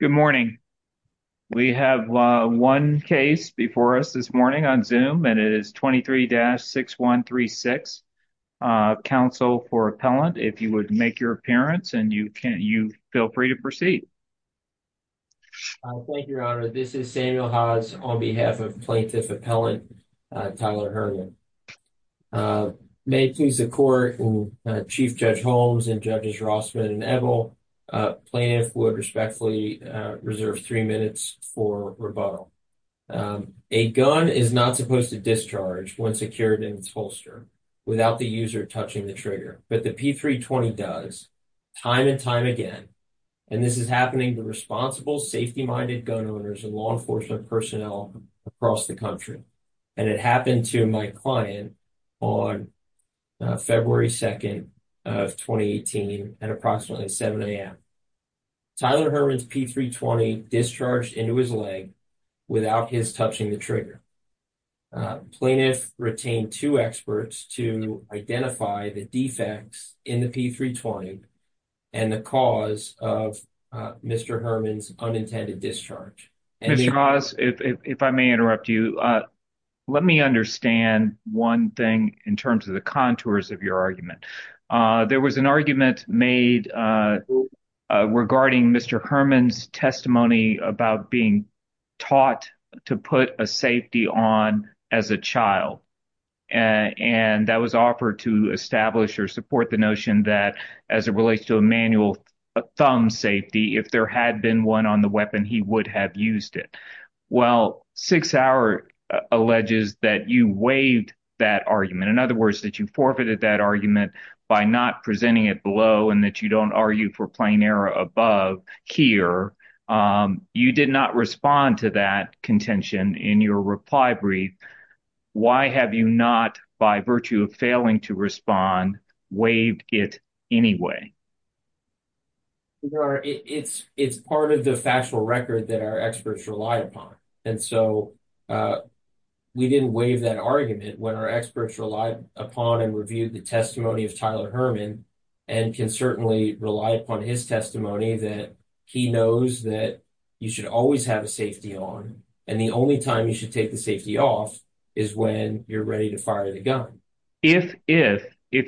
Good morning. We have one case before us this morning on Zoom and it is 23-6136 Council for Appellant. If you would make your appearance and you can you feel free to proceed. Thank you, Your Honor. This is Samuel Hodges on behalf of Plaintiff Appellant Tyler Herman. May it please the Court and Chief Judge Holmes and Judges Rossman and Ebel, Plaintiff would respectfully reserve three minutes for rebuttal. A gun is not supposed to discharge when secured in its holster without the user touching the trigger, but the P-320 does time and time again. And this is happening to responsible, safety-minded gun owners and law enforcement personnel across the country. And it happened to my client on February 2nd of 2018 at approximately 7 a.m. Tyler Herman's P-320 discharged into his leg without his touching the trigger. Plaintiff retained two experts to identify the defects in the P-320 and the cause of Mr. Herman's unintended discharge. Mr. Ross, if I may interrupt you, let me understand one thing in terms of the contours of your argument. There was an argument made regarding Mr. Herman's testimony about being taught to put a safety on as a child. And that was offered to establish or support the notion that as it relates to a manual thumb safety, if there had been one on the weapon, he would have used it. Well, Six Hour alleges that you waived that argument. In other words, that you forfeited that argument by not presenting it below and that you don't argue for plain error above here. You did not respond to that contention in your reply brief. Why have you not, by virtue of failing to respond, waived it anyway? Your Honor, it's part of the factual record that our experts rely upon. And so, we didn't waive that argument when our experts relied upon and reviewed the testimony of Tyler Herman and can certainly rely upon his testimony that he knows that you should always have a safety on. And the only time you should take the safety off is when you're ready to fire the gun. If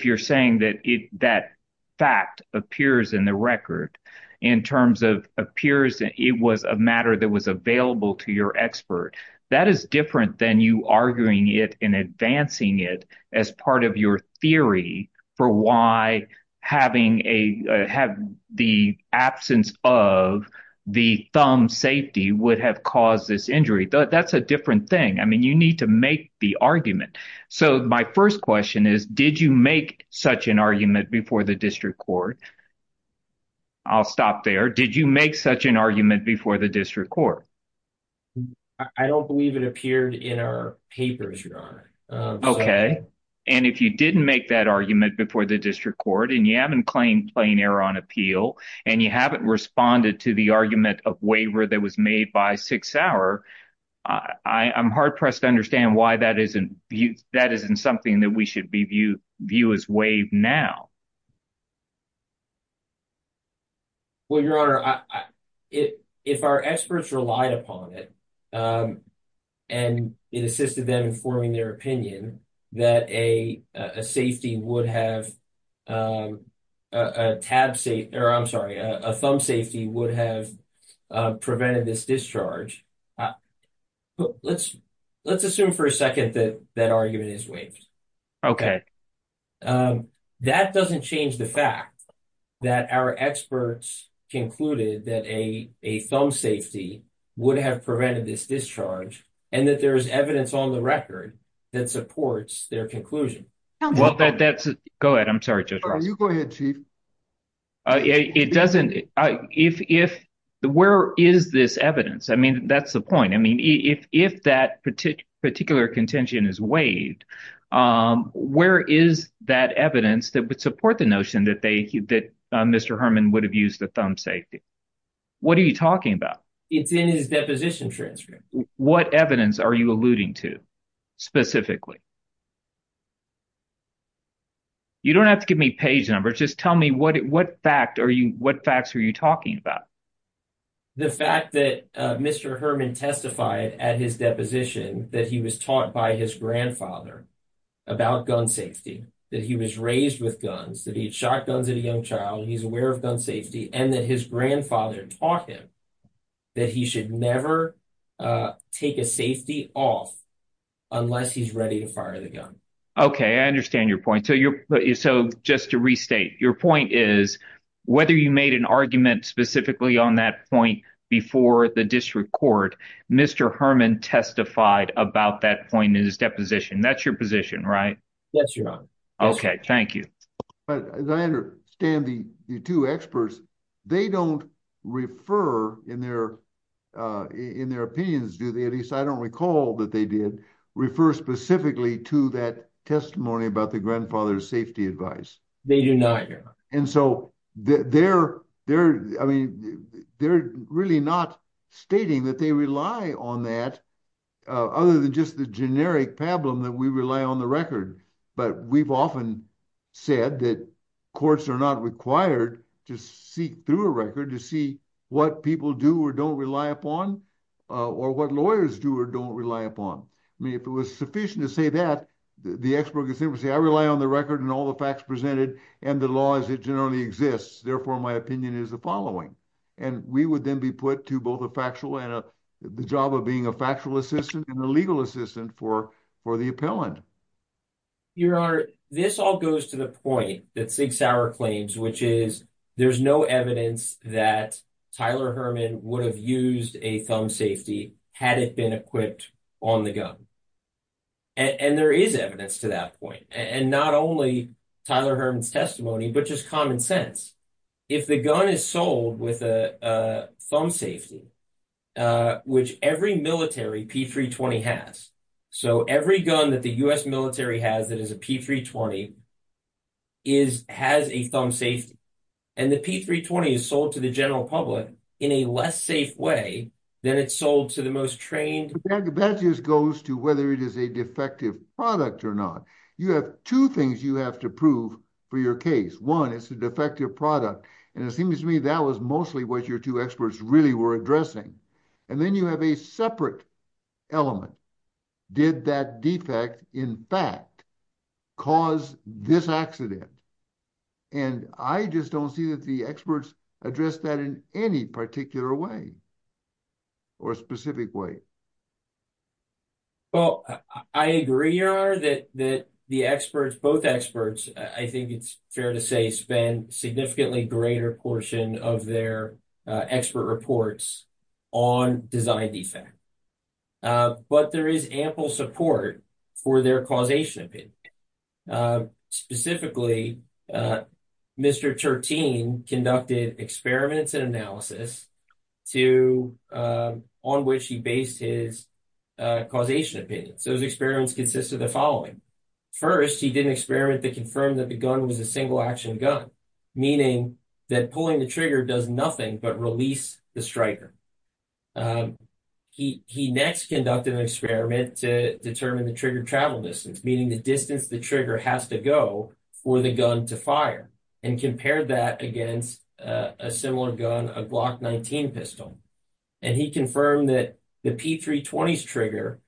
you're saying that that fact appears in the record, in terms of appears it was a matter that was available to your expert, that is different than you arguing it and advancing it as part of your theory for why having the absence of the thumb safety would have caused this injury. That's a different thing. I mean, you need to make the argument. So, my first question is, did you make such an argument before the district court? I'll stop there. Did you make such an argument before the district court? I don't believe it appeared in our papers, Your Honor. Okay. And if you didn't make that argument before the district court and you haven't claimed plain error on appeal and you haven't responded to the argument of waiver that was made by Sauer, I'm hard-pressed to understand why that isn't something that we should view as waived now. Well, Your Honor, if our experts relied upon it and it assisted them in forming their opinion that a thumb safety would have prevented this discharge, let's assume for a second that that argument is waived. Okay. That doesn't change the fact that our experts concluded that a thumb safety would have prevented this discharge and that there's evidence on the record that supports their conclusion. Go ahead. I'm sorry, Judge Ross. You go ahead, Chief. Where is this evidence? I mean, that's the point. I mean, if that particular contention is waived, where is that evidence that would support the notion that Mr. Herman would have used the thumb safety? What are you talking about? It's in his deposition transcript. What evidence are you alluding to specifically? You don't have to give me page numbers. Just tell me what facts are you talking about? The fact that Mr. Herman testified at his deposition that he was taught by his grandfather about gun safety, that he was raised with guns, that he'd shot guns at a young child, he's aware of gun safety, and that his grandfather taught him that he should never take a safety off unless he's ready to fire the gun. Okay. I understand your point. So just to restate, your point is whether you made an argument specifically on that point before the district court, Mr. Herman testified about that point in his deposition. That's your position, right? Yes, Your Honor. Okay. Thank you. But as I understand the two experts, they don't refer in their opinions, do they? At least, I don't recall that they did refer specifically to that testimony about the grandfather's safety advice. They do not, Your Honor. And so they're really not stating that they rely on that other than just the generic problem that we rely on the record. But we've often said that courts are not required to seek through a record to see what people do or don't rely upon, or what lawyers do or don't rely upon. I mean, if it was sufficient to say that, the expert could simply say, I rely on the record and all the facts presented, and the law as it generally exists. Therefore, my opinion is the following. And we would then be put to both a factual and the job of being a factual assistant and a legal assistant for the appellant. Your Honor, this all goes to the point that Sig Sauer claims, which is there's no evidence that Tyler Herman would have used a thumb safety had it been equipped on the gun. And there is evidence to that point. And not only Tyler Herman's testimony, but just common sense. If the gun is sold with a thumb safety, which every military P-320 has. So every gun that the U.S. military has that is a P-320 has a thumb safety. And the P-320 is sold to the general public in a less safe way than it's sold to the most trained. But that just goes to whether it is a defective product or not. You have two things you have to for your case. One, it's a defective product. And it seems to me that was mostly what your two experts really were addressing. And then you have a separate element. Did that defect, in fact, cause this accident? And I just don't see that the experts addressed that in any particular way or specific way. Well, I agree, Your Honor, that the experts, both experts, I think it's fair to say, spend significantly greater portion of their expert reports on design defect. But there is ample support for their causation opinion. Specifically, Mr. Tertin conducted experiments and analysis on which he based his causation opinion. So his experiments consisted of the following. First, he did an experiment that confirmed that the gun was a single action gun, meaning that pulling the trigger does nothing but release the striker. He next conducted an experiment to determine the trigger travel distance, meaning the distance the has to go for the gun to fire and compared that against a similar gun, a Glock 19 pistol. And he confirmed that the P320's trigger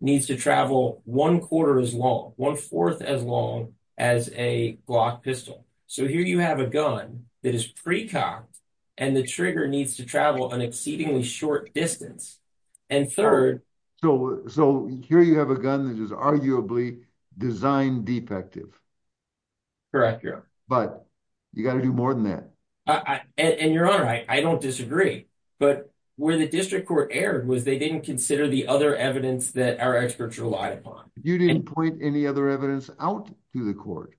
needs to travel one quarter as long, one fourth as long as a Glock pistol. So here you have a gun that is precocked and the trigger needs to travel an exceedingly short distance. And third. So here you have a gun that is arguably design defective. Correct, Your Honor. But you got to do more than that. And Your Honor, I don't disagree. But where the district court erred was they didn't consider the other evidence that our experts relied upon. You didn't point any other evidence out to the court.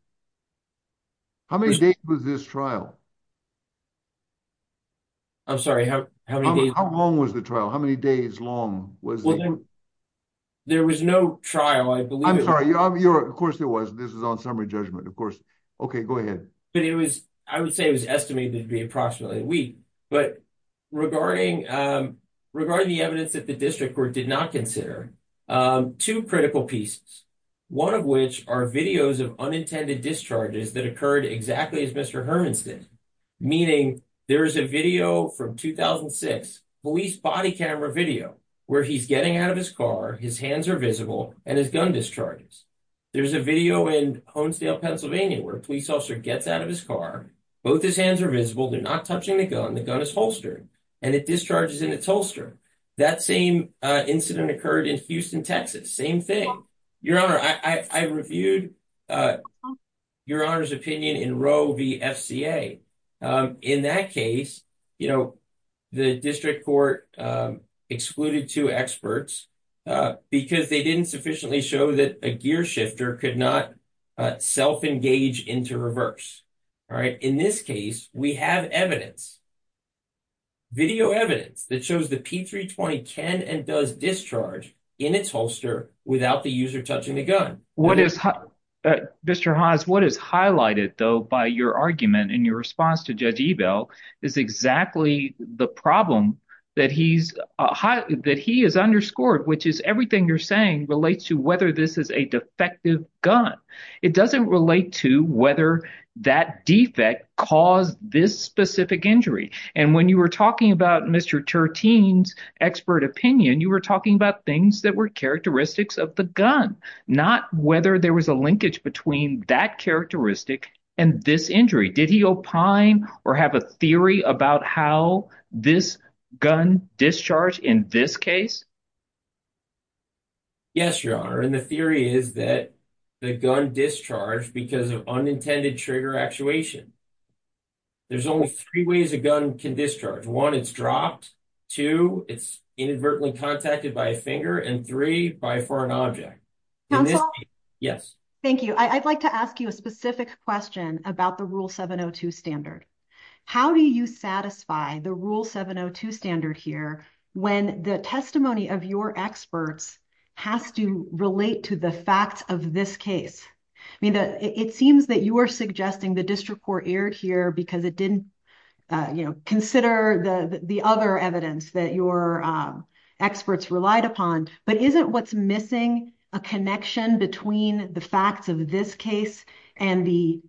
How many days was this trial? I'm sorry, how many days? How long was the trial? How many days long was it? There was no trial, I believe. I'm sorry, Your Honor, of course there was. This was on summary judgment, of course. Okay, go ahead. But it was, I would say it was estimated to be approximately a week. But regarding the evidence that the district court did not consider, two critical pieces, one of which are videos of unintended discharges that occurred exactly as did. Meaning there is a video from 2006 police body camera video where he's getting out of his car, his hands are visible, and his gun discharges. There's a video in Honesdale, Pennsylvania, where a police officer gets out of his car, both his hands are visible, they're not touching the gun, the gun is holstered, and it discharges in its holster. That same incident occurred in Houston, Texas. Same thing. Your Honor, I reviewed Your Honor's opinion in Roe v. FCA. In that case, the district court excluded two experts because they didn't sufficiently show that a gear shifter could not self-engage into reverse. In this case, we have evidence, video evidence, that shows the can and does discharge in its holster without the user touching the gun. Mr. Haas, what is highlighted though by your argument in your response to Judge Ebel is exactly the problem that he is underscored, which is everything you're saying relates to whether this is a defective gun. It doesn't relate to whether that defect caused this specific injury. And when you were talking about Mr. Turteen's expert opinion, you were talking about things that were characteristics of the gun, not whether there was a linkage between that characteristic and this injury. Did he opine or have a theory about how this gun discharged in this case? Yes, Your Honor, and the theory is that the gun discharged because of unintended trigger actuation. There's only three ways a gun can discharge. One, it's dropped. Two, it's inadvertently contacted by a finger. And three, by a foreign object. Yes. Thank you. I'd like to ask you a specific question about the Rule 702 standard. How do you satisfy the Rule 702 standard here when the testimony of your experts has to relate to the facts of this case? I mean, it seems that you are suggesting the district court erred here because it didn't consider the other evidence that your experts relied upon. But isn't what's missing a connection between the facts of this case and the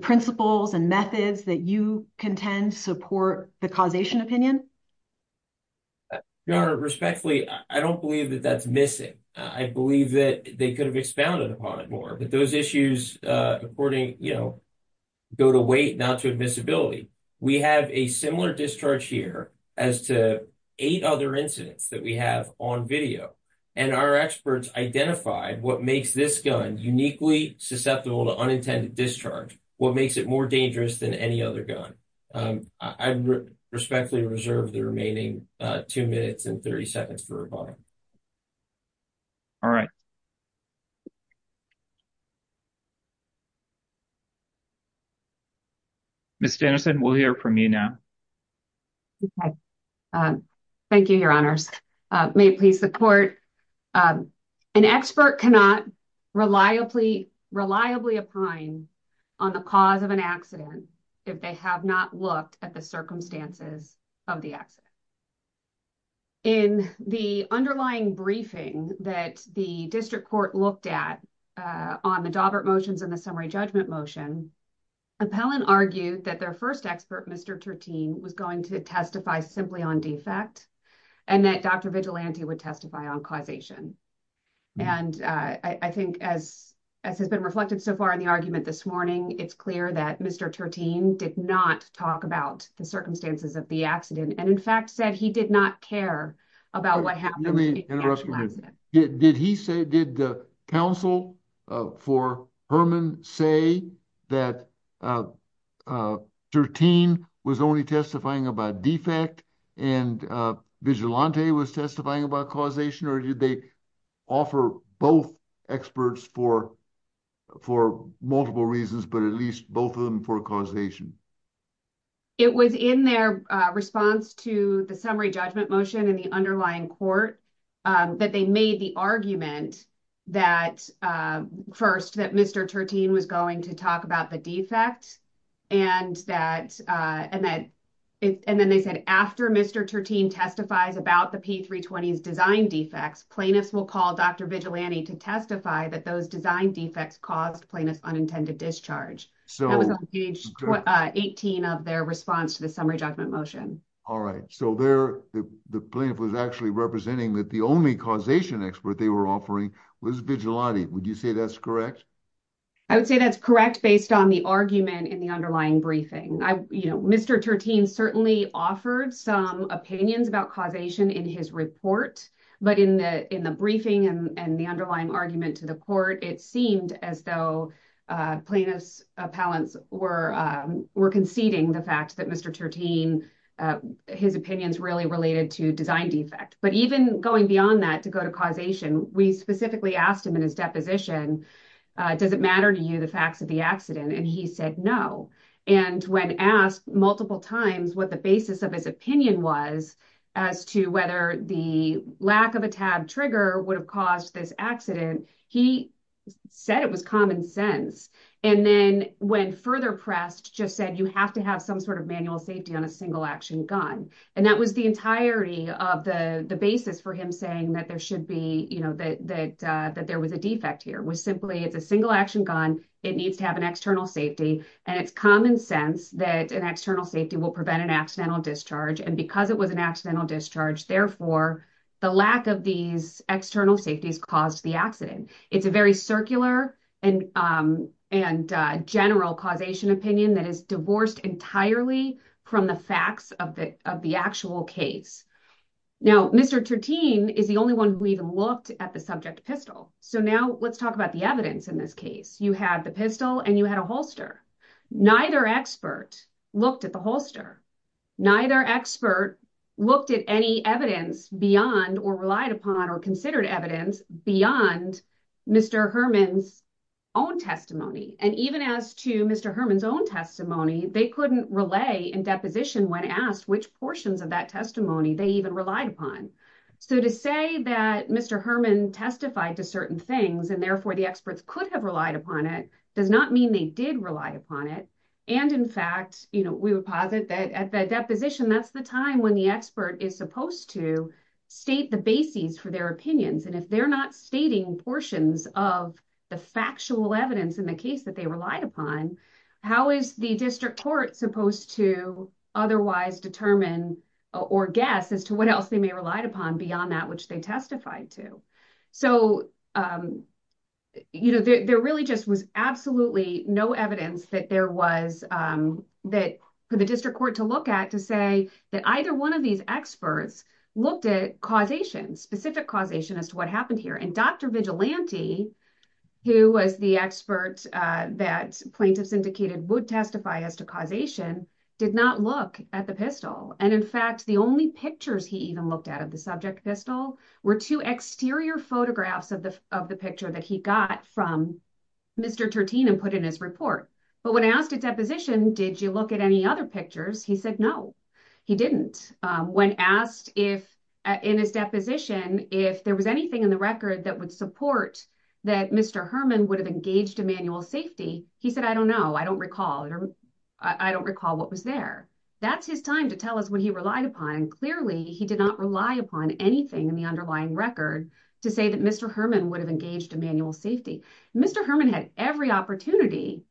principles and methods that you contend support the causation opinion? Your Honor, respectfully, I don't believe that that's missing. I believe that they could have expounded upon it more. But those issues, according, you know, go to weight, not to admissibility. We have a similar discharge here as to eight other incidents that we have on video. And our experts identified what makes this gun uniquely susceptible to unintended discharge, what makes it more dangerous than any other gun. I respectfully reserve the remaining two minutes and 30 seconds for rebuttal. All right. Ms. Anderson, we'll hear from you now. Okay. Thank you, Your Honors. May it please the court. An expert cannot reliably, reliably opine on the cause of an accident if they have not looked at circumstances of the accident. In the underlying briefing that the district court looked at on the Dawbert motions and the summary judgment motion, appellant argued that their first expert, Mr. Tertin, was going to testify simply on defect and that Dr. Vigilante would testify on causation. And I think as has been reflected so far in the argument this morning, it's clear that Mr. Tertin did not talk about the circumstances of the accident and in fact said he did not care about what happened. Did he say, did the counsel for Herman say that Tertin was only testifying about defect and Vigilante was testifying about causation or did they offer both experts for for multiple reasons but at least both of them for causation? It was in their response to the summary judgment motion in the underlying court that they made the argument that first that Mr. Tertin was going to talk about the defect and that and then they said after Mr. Tertin testifies about the P-320's design defects, plaintiffs will call Dr. Vigilante to testify that those design defects caused plaintiff's unintended discharge. So that was on page 18 of their response to the summary judgment motion. All right so there the plaintiff was actually representing that the only causation expert they were offering was Vigilante. Would you say that's correct? I would say that's correct based on the argument in the underlying briefing. I you know Mr. Tertin certainly offered some opinions about causation in his report but in the in the briefing and the underlying argument to the court it seemed as though plaintiff's appellants were conceding the fact that Mr. Tertin his opinions really related to design defect but even going beyond that to go to causation we specifically asked him in his deposition does it matter to you the facts of the accident and he said no and when asked multiple times what the basis of his opinion was as to whether the lack of a tab trigger would have caused this accident he said it was common sense and then when further pressed just said you have to have some sort of manual safety on a single action gun and that was the entirety of the the basis for him saying that there should be you know that that there was a defect here was simply it's a single action gun it needs to have an external safety and it's common sense that an external safety will prevent an accidental discharge and because it was an accidental discharge therefore the lack of these external safeties caused the accident it's a very circular and and general causation opinion that is divorced entirely from the facts of the of the actual case now Mr. Tertin is the only one who even looked at the subject pistol so now let's talk about the evidence in this case you had the pistol and you had a holster neither expert looked at the holster neither expert looked at any evidence beyond or relied upon or considered evidence beyond Mr. Herman's own testimony and even as to Mr. Herman's own testimony they couldn't relay in deposition when asked which portions of that testimony they even relied upon so to say that Mr. Herman testified to certain things and therefore the experts could have relied upon it does not mean they did rely upon it and in fact you know we would posit that at that deposition that's the time when the expert is supposed to state the bases for their opinions and if they're not stating portions of the factual evidence in the case that they relied upon how is the district court supposed to otherwise determine or guess as to what else they may relied upon beyond that which they testified to so you know there really just was absolutely no evidence that there was that for the district court to look at to say that either one of these experts looked at causation specific causation as to what happened here and Dr. Vigilante who was the expert that plaintiffs indicated would testify as to causation did not look at the pistol and in fact the only pictures he even looked at of the subject pistol were two exterior photographs of the of the picture that he got from Mr. Tertin and put in his report but when asked at deposition did you look at any other pictures he said no he didn't when asked if in his deposition if there was anything in the record that would support that Mr. Herman would have engaged Emanuel's safety he said I don't know I don't recall or I don't recall what was there that's his time to tell us what he relied upon clearly he did not rely upon anything in the underlying record to say that Mr. Herman would have engaged Emanuel's safety Mr. Herman had every opportunity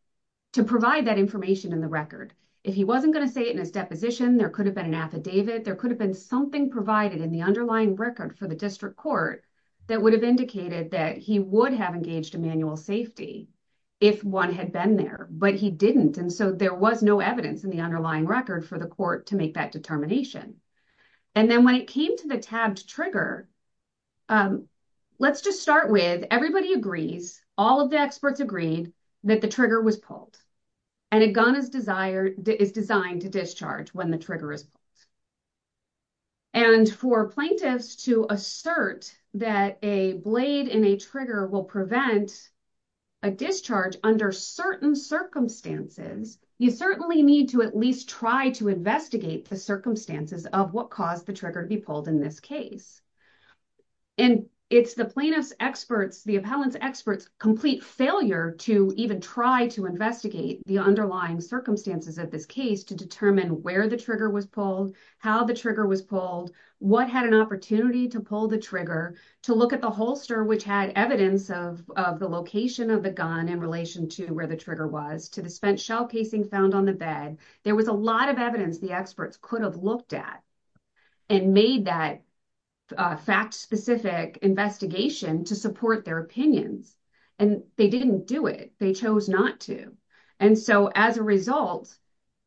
to provide that information in the record if he wasn't going to say it in his deposition there could have been an affidavit there could have been something provided in the underlying record for the district court that would have indicated that he would have engaged Emanuel's safety if one had been there but he didn't and so there was no evidence in the underlying record for the court to make that determination and then when it came to the tabbed trigger let's just start with everybody agrees all of the experts agreed that the trigger was pulled and a gun is desired is designed to discharge when the trigger is pulled and for plaintiffs to assert that a blade in a trigger will prevent a discharge under certain circumstances you certainly need to at least try to investigate the circumstances of what caused the trigger to be pulled in this case and it's the plaintiff's experts the appellant's experts complete failure to even try to investigate the underlying circumstances of this case to determine where the trigger was pulled how the trigger was pulled what had an opportunity to pull the trigger to look at the holster which had evidence of of the location of the gun in relation to where the trigger was to the spent casing found on the bed there was a lot of evidence the experts could have looked at and made that fact-specific investigation to support their opinions and they didn't do it they chose not to and so as a result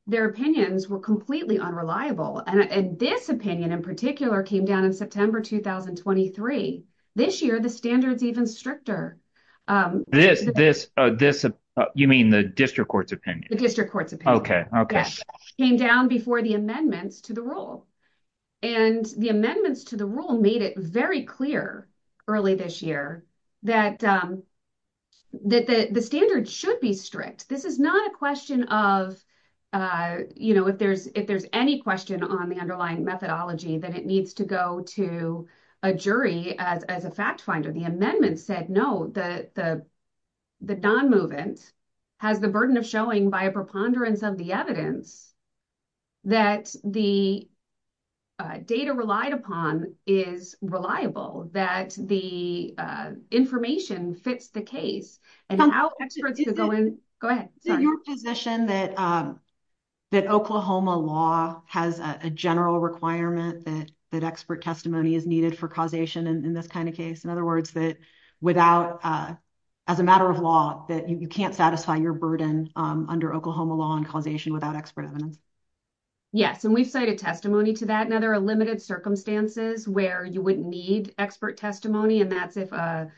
their opinions were completely unreliable and this opinion in particular came down in September 2023 this year the standards even stricter um this this uh this uh you mean the district court's opinion the district court's okay okay came down before the amendments to the rule and the amendments to the rule made it very clear early this year that um that the the standard should be strict this is not a question of uh you know if there's if there's any question on the underlying methodology that it needs to go to a jury as as a fact finder the amendment said no the the the non-movement has the burden of showing by a preponderance of the evidence that the data relied upon is reliable that the information fits the case and how experts to go in go ahead so your position that um that oklahoma law has a general requirement that that expert testimony is needed for causation in this kind of case in other words that without uh as a matter of law that you can't satisfy your burden um under oklahoma law and causation without expert evidence yes and we've cited testimony to that now there are limited circumstances where you would need expert testimony and that's if a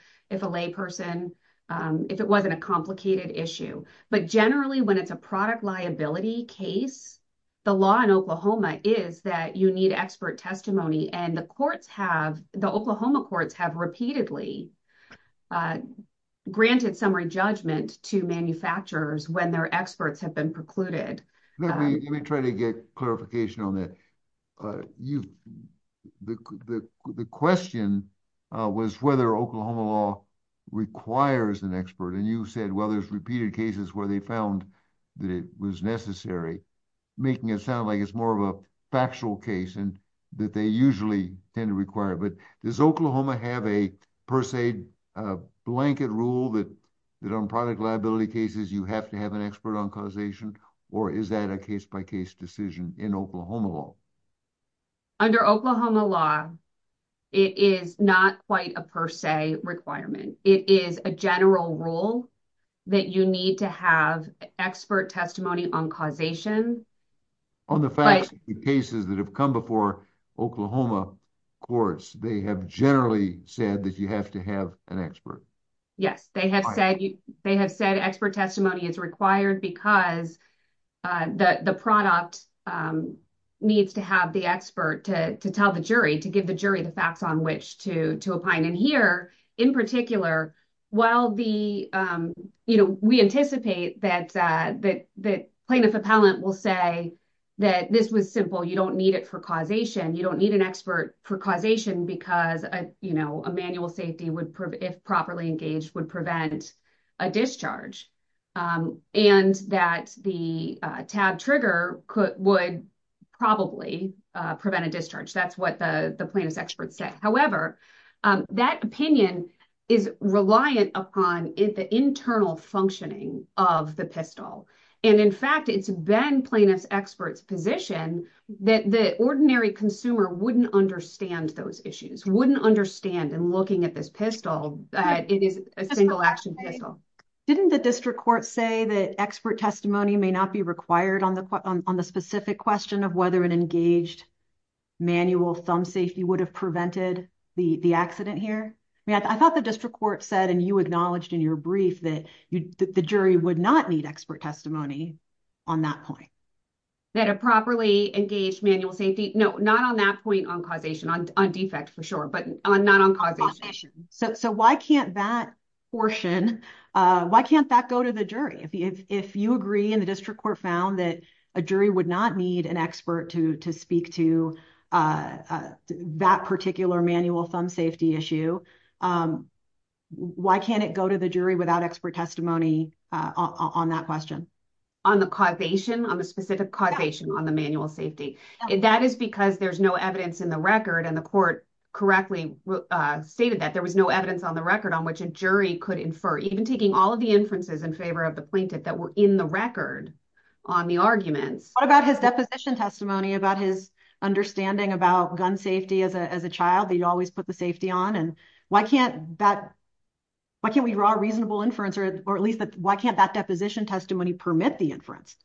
lay person um if it wasn't a complicated issue but generally when it's a product liability case the law in oklahoma is that you need expert testimony and the courts have the oklahoma courts have repeatedly uh granted summary judgment to manufacturers when their experts have been precluded let me try to get clarification on that uh you the the question uh was whether oklahoma law requires an expert and you said well there's repeated cases where they found that it was necessary making it sound like it's more of a factual case and that they usually tend to require but does oklahoma have a per se uh blanket rule that that on product liability cases you have to have an expert on causation or is that a case-by-case decision in oklahoma law under oklahoma law it is not quite a per se requirement it is a general rule that you need to have expert testimony on causation on the facts cases that have come before oklahoma courts they have generally said that you have to have an expert yes they have said you they have said expert testimony is required because uh the the product um needs to have the expert to to tell the jury to give the jury the facts on which to to opine and here in particular while the um you know we anticipate that uh that the plaintiff appellant will say that this was simple you don't need it for causation you don't need an expert for causation because a you know a manual if properly engaged would prevent a discharge um and that the uh tab trigger could would probably uh prevent a discharge that's what the the plaintiff's expert said however um that opinion is reliant upon the internal functioning of the pistol and in fact it's been plaintiff's expert's position that the ordinary consumer wouldn't understand those wouldn't understand and looking at this pistol that it is a single action pistol didn't the district court say that expert testimony may not be required on the on the specific question of whether an engaged manual thumb safety would have prevented the the accident here i mean i thought the district court said and you acknowledged in your brief that you the jury would not need expert testimony on that point that a properly engaged manual safety no not on that point on causation on defect for sure but not on causation so so why can't that portion uh why can't that go to the jury if you if you agree in the district court found that a jury would not need an expert to to speak to uh that particular manual thumb safety issue um why can't it go to the jury without expert testimony uh on that question on the causation on the specific causation on the record and the court correctly uh stated that there was no evidence on the record on which a jury could infer even taking all of the inferences in favor of the plaintiff that were in the record on the arguments what about his deposition testimony about his understanding about gun safety as a as a child that you always put the safety on and why can't that why can't we draw a reasonable inference or at least that why can't that deposition testimony permit the inference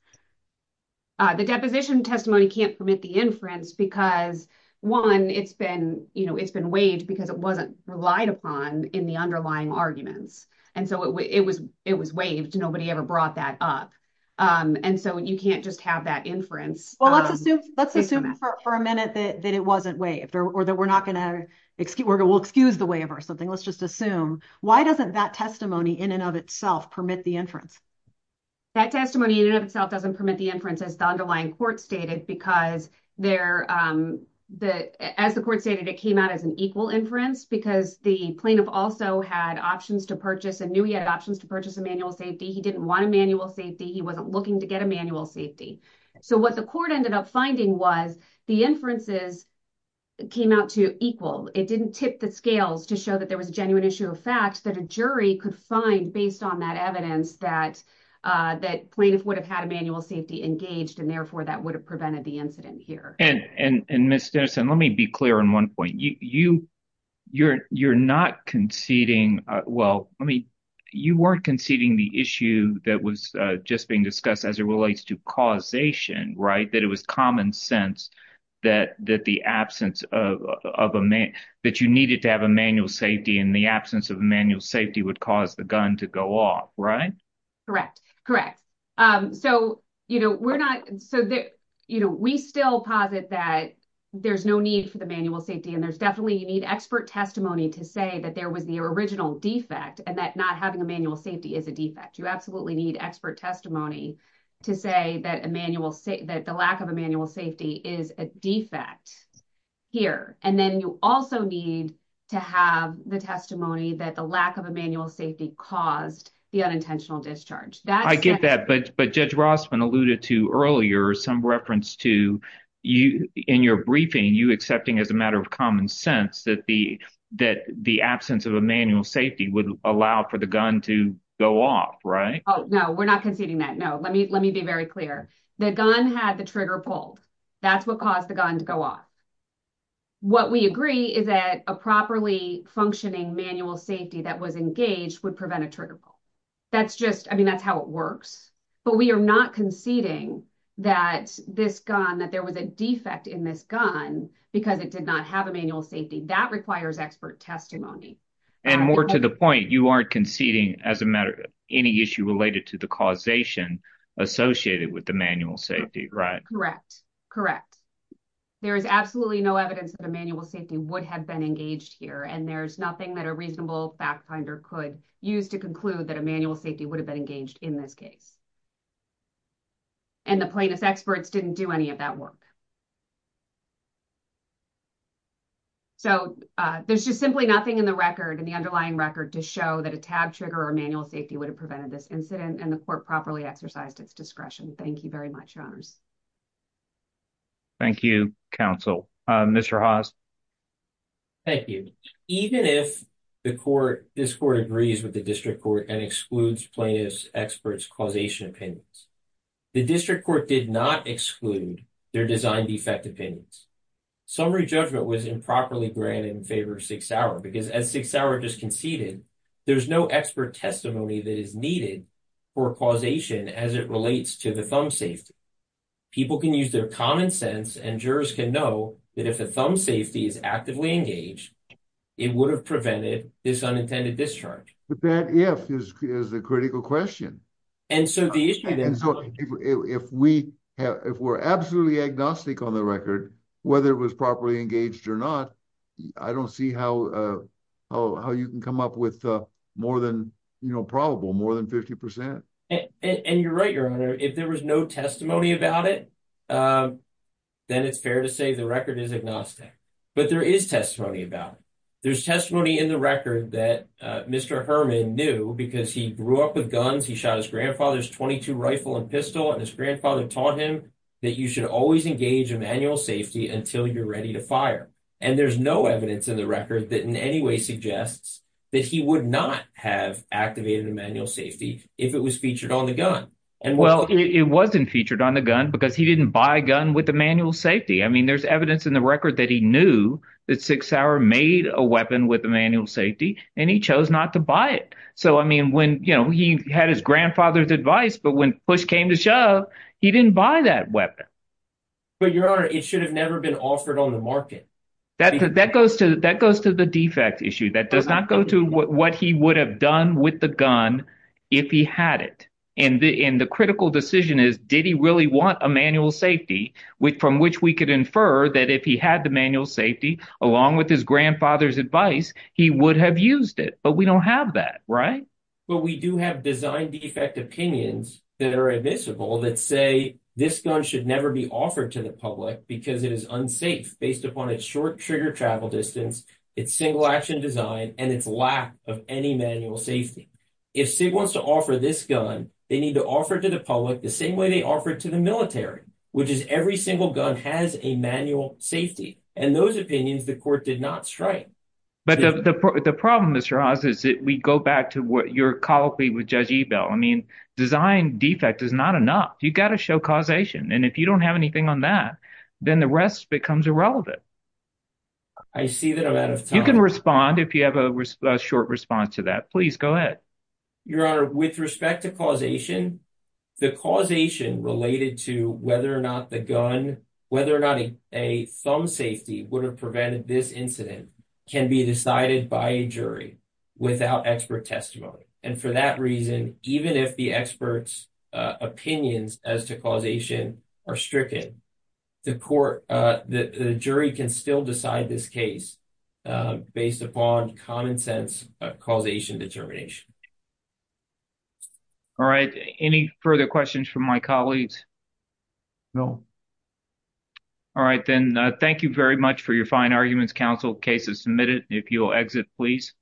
uh the deposition testimony can't permit the inference because one it's been you know it's been waived because it wasn't relied upon in the underlying arguments and so it was it was waived nobody ever brought that up um and so you can't just have that inference well let's assume let's assume for a minute that it wasn't waived or that we're not gonna excuse we'll excuse the waiver or something let's just assume why doesn't that testimony in and of itself permit the inference that testimony in and of itself doesn't permit the inference as the underlying court stated because they're um the as the court stated it came out as an equal inference because the plaintiff also had options to purchase a new he had options to purchase a manual safety he didn't want a manual safety he wasn't looking to get a manual safety so what the court ended up finding was the inferences came out to equal it didn't tip the scales to show that there was a evidence that uh that plaintiff would have had a manual safety engaged and therefore that would have prevented the incident here and and and miss denison let me be clear on one point you you you're you're not conceding uh well i mean you weren't conceding the issue that was uh just being discussed as it relates to causation right that it was common sense that that the absence of of a man that you needed to have a manual safety in the absence of manual safety would cause the to go off right correct correct um so you know we're not so that you know we still posit that there's no need for the manual safety and there's definitely you need expert testimony to say that there was the original defect and that not having a manual safety is a defect you absolutely need expert testimony to say that emmanuel say that the lack of emmanuel safety is a defect here and then you also need to have the testimony that the lack of emmanuel safety caused the unintentional discharge that i get that but but judge rossman alluded to earlier some reference to you in your briefing you accepting as a matter of common sense that the that the absence of emmanuel safety would allow for the gun to go off right oh no we're not conceding that no let me let me be very clear the gun had the trigger pulled that's what caused the gun to go off what we agree is that a properly functioning manual safety that was engaged would prevent a trigger pull that's just i mean that's how it works but we are not conceding that this gun that there was a defect in this gun because it did not have a manual safety that requires expert testimony and more to the point you aren't conceding as a matter of any issue related to the causation associated with the manual safety right correct correct there is absolutely no evidence that emmanuel safety would have been engaged here and there's nothing that a reasonable fact finder could use to conclude that emmanuel safety would have been engaged in this case and the plaintiff's experts didn't do any of that work so uh there's just simply nothing in the record in the underlying record to show that a tab trigger or manual safety would have prevented this incident and the court properly exercised its discretion thank you very much your honors thank you counsel uh mr haas thank you even if the court this court agrees with the district court and excludes plaintiff's experts causation the district court did not exclude their design defect opinions summary judgment was improperly granted in favor of six hour because as six hour just conceded there's no expert testimony that is needed for causation as it relates to the thumb safety people can use their common sense and jurors can know that if the thumb safety is actively engaged it would have prevented this unintended discharge but that if is the critical question and so the issue then so if we have if we're absolutely agnostic on the record whether it was properly engaged or not i don't see how uh how you can come up with uh more than you know probable more than 50 percent and you're right your honor if there was no testimony about it um then it's fair to say the record is agnostic but there is testimony about it there's testimony in the record that uh mr herman knew because he grew up with guns he shot his grandfather's 22 rifle and pistol and his grandfather taught him that you should always engage a manual safety until you're ready to fire and there's no evidence in the record that in any way suggests that he would not have activated a manual safety if it was featured on the gun and well it wasn't featured on the gun because he didn't buy a gun with the that six hour made a weapon with a manual safety and he chose not to buy it so i mean when you know he had his grandfather's advice but when push came to shove he didn't buy that weapon but your honor it should have never been offered on the market that that goes to that goes to the defect issue that does not go to what he would have done with the gun if he had it and the in the critical decision is did he really want a manual safety with from which we could infer that if he had manual safety along with his grandfather's advice he would have used it but we don't have that right but we do have design defect opinions that are admissible that say this gun should never be offered to the public because it is unsafe based upon its short trigger travel distance its single action design and its lack of any manual safety if sig wants to offer this gun they need to offer to the public the same way they offer it to the military which is every single gun has a manual safety and those opinions the court did not strike but the the problem is ross is that we go back to what you're colloquy with judge ebell i mean design defect is not enough you got to show causation and if you don't have anything on that then the rest becomes irrelevant i see that i'm out of time you can respond if you have a short response to that please go ahead your honor with respect to causation the causation related to whether or not the gun whether or not a thumb safety would have prevented this incident can be decided by a jury without expert testimony and for that reason even if the experts opinions as to causation are stricken the court uh the jury can still decide this case based upon common sense causation determination all right any further questions from my colleagues no all right then thank you very much for your fine arguments counsel case is submitted if you'll exit please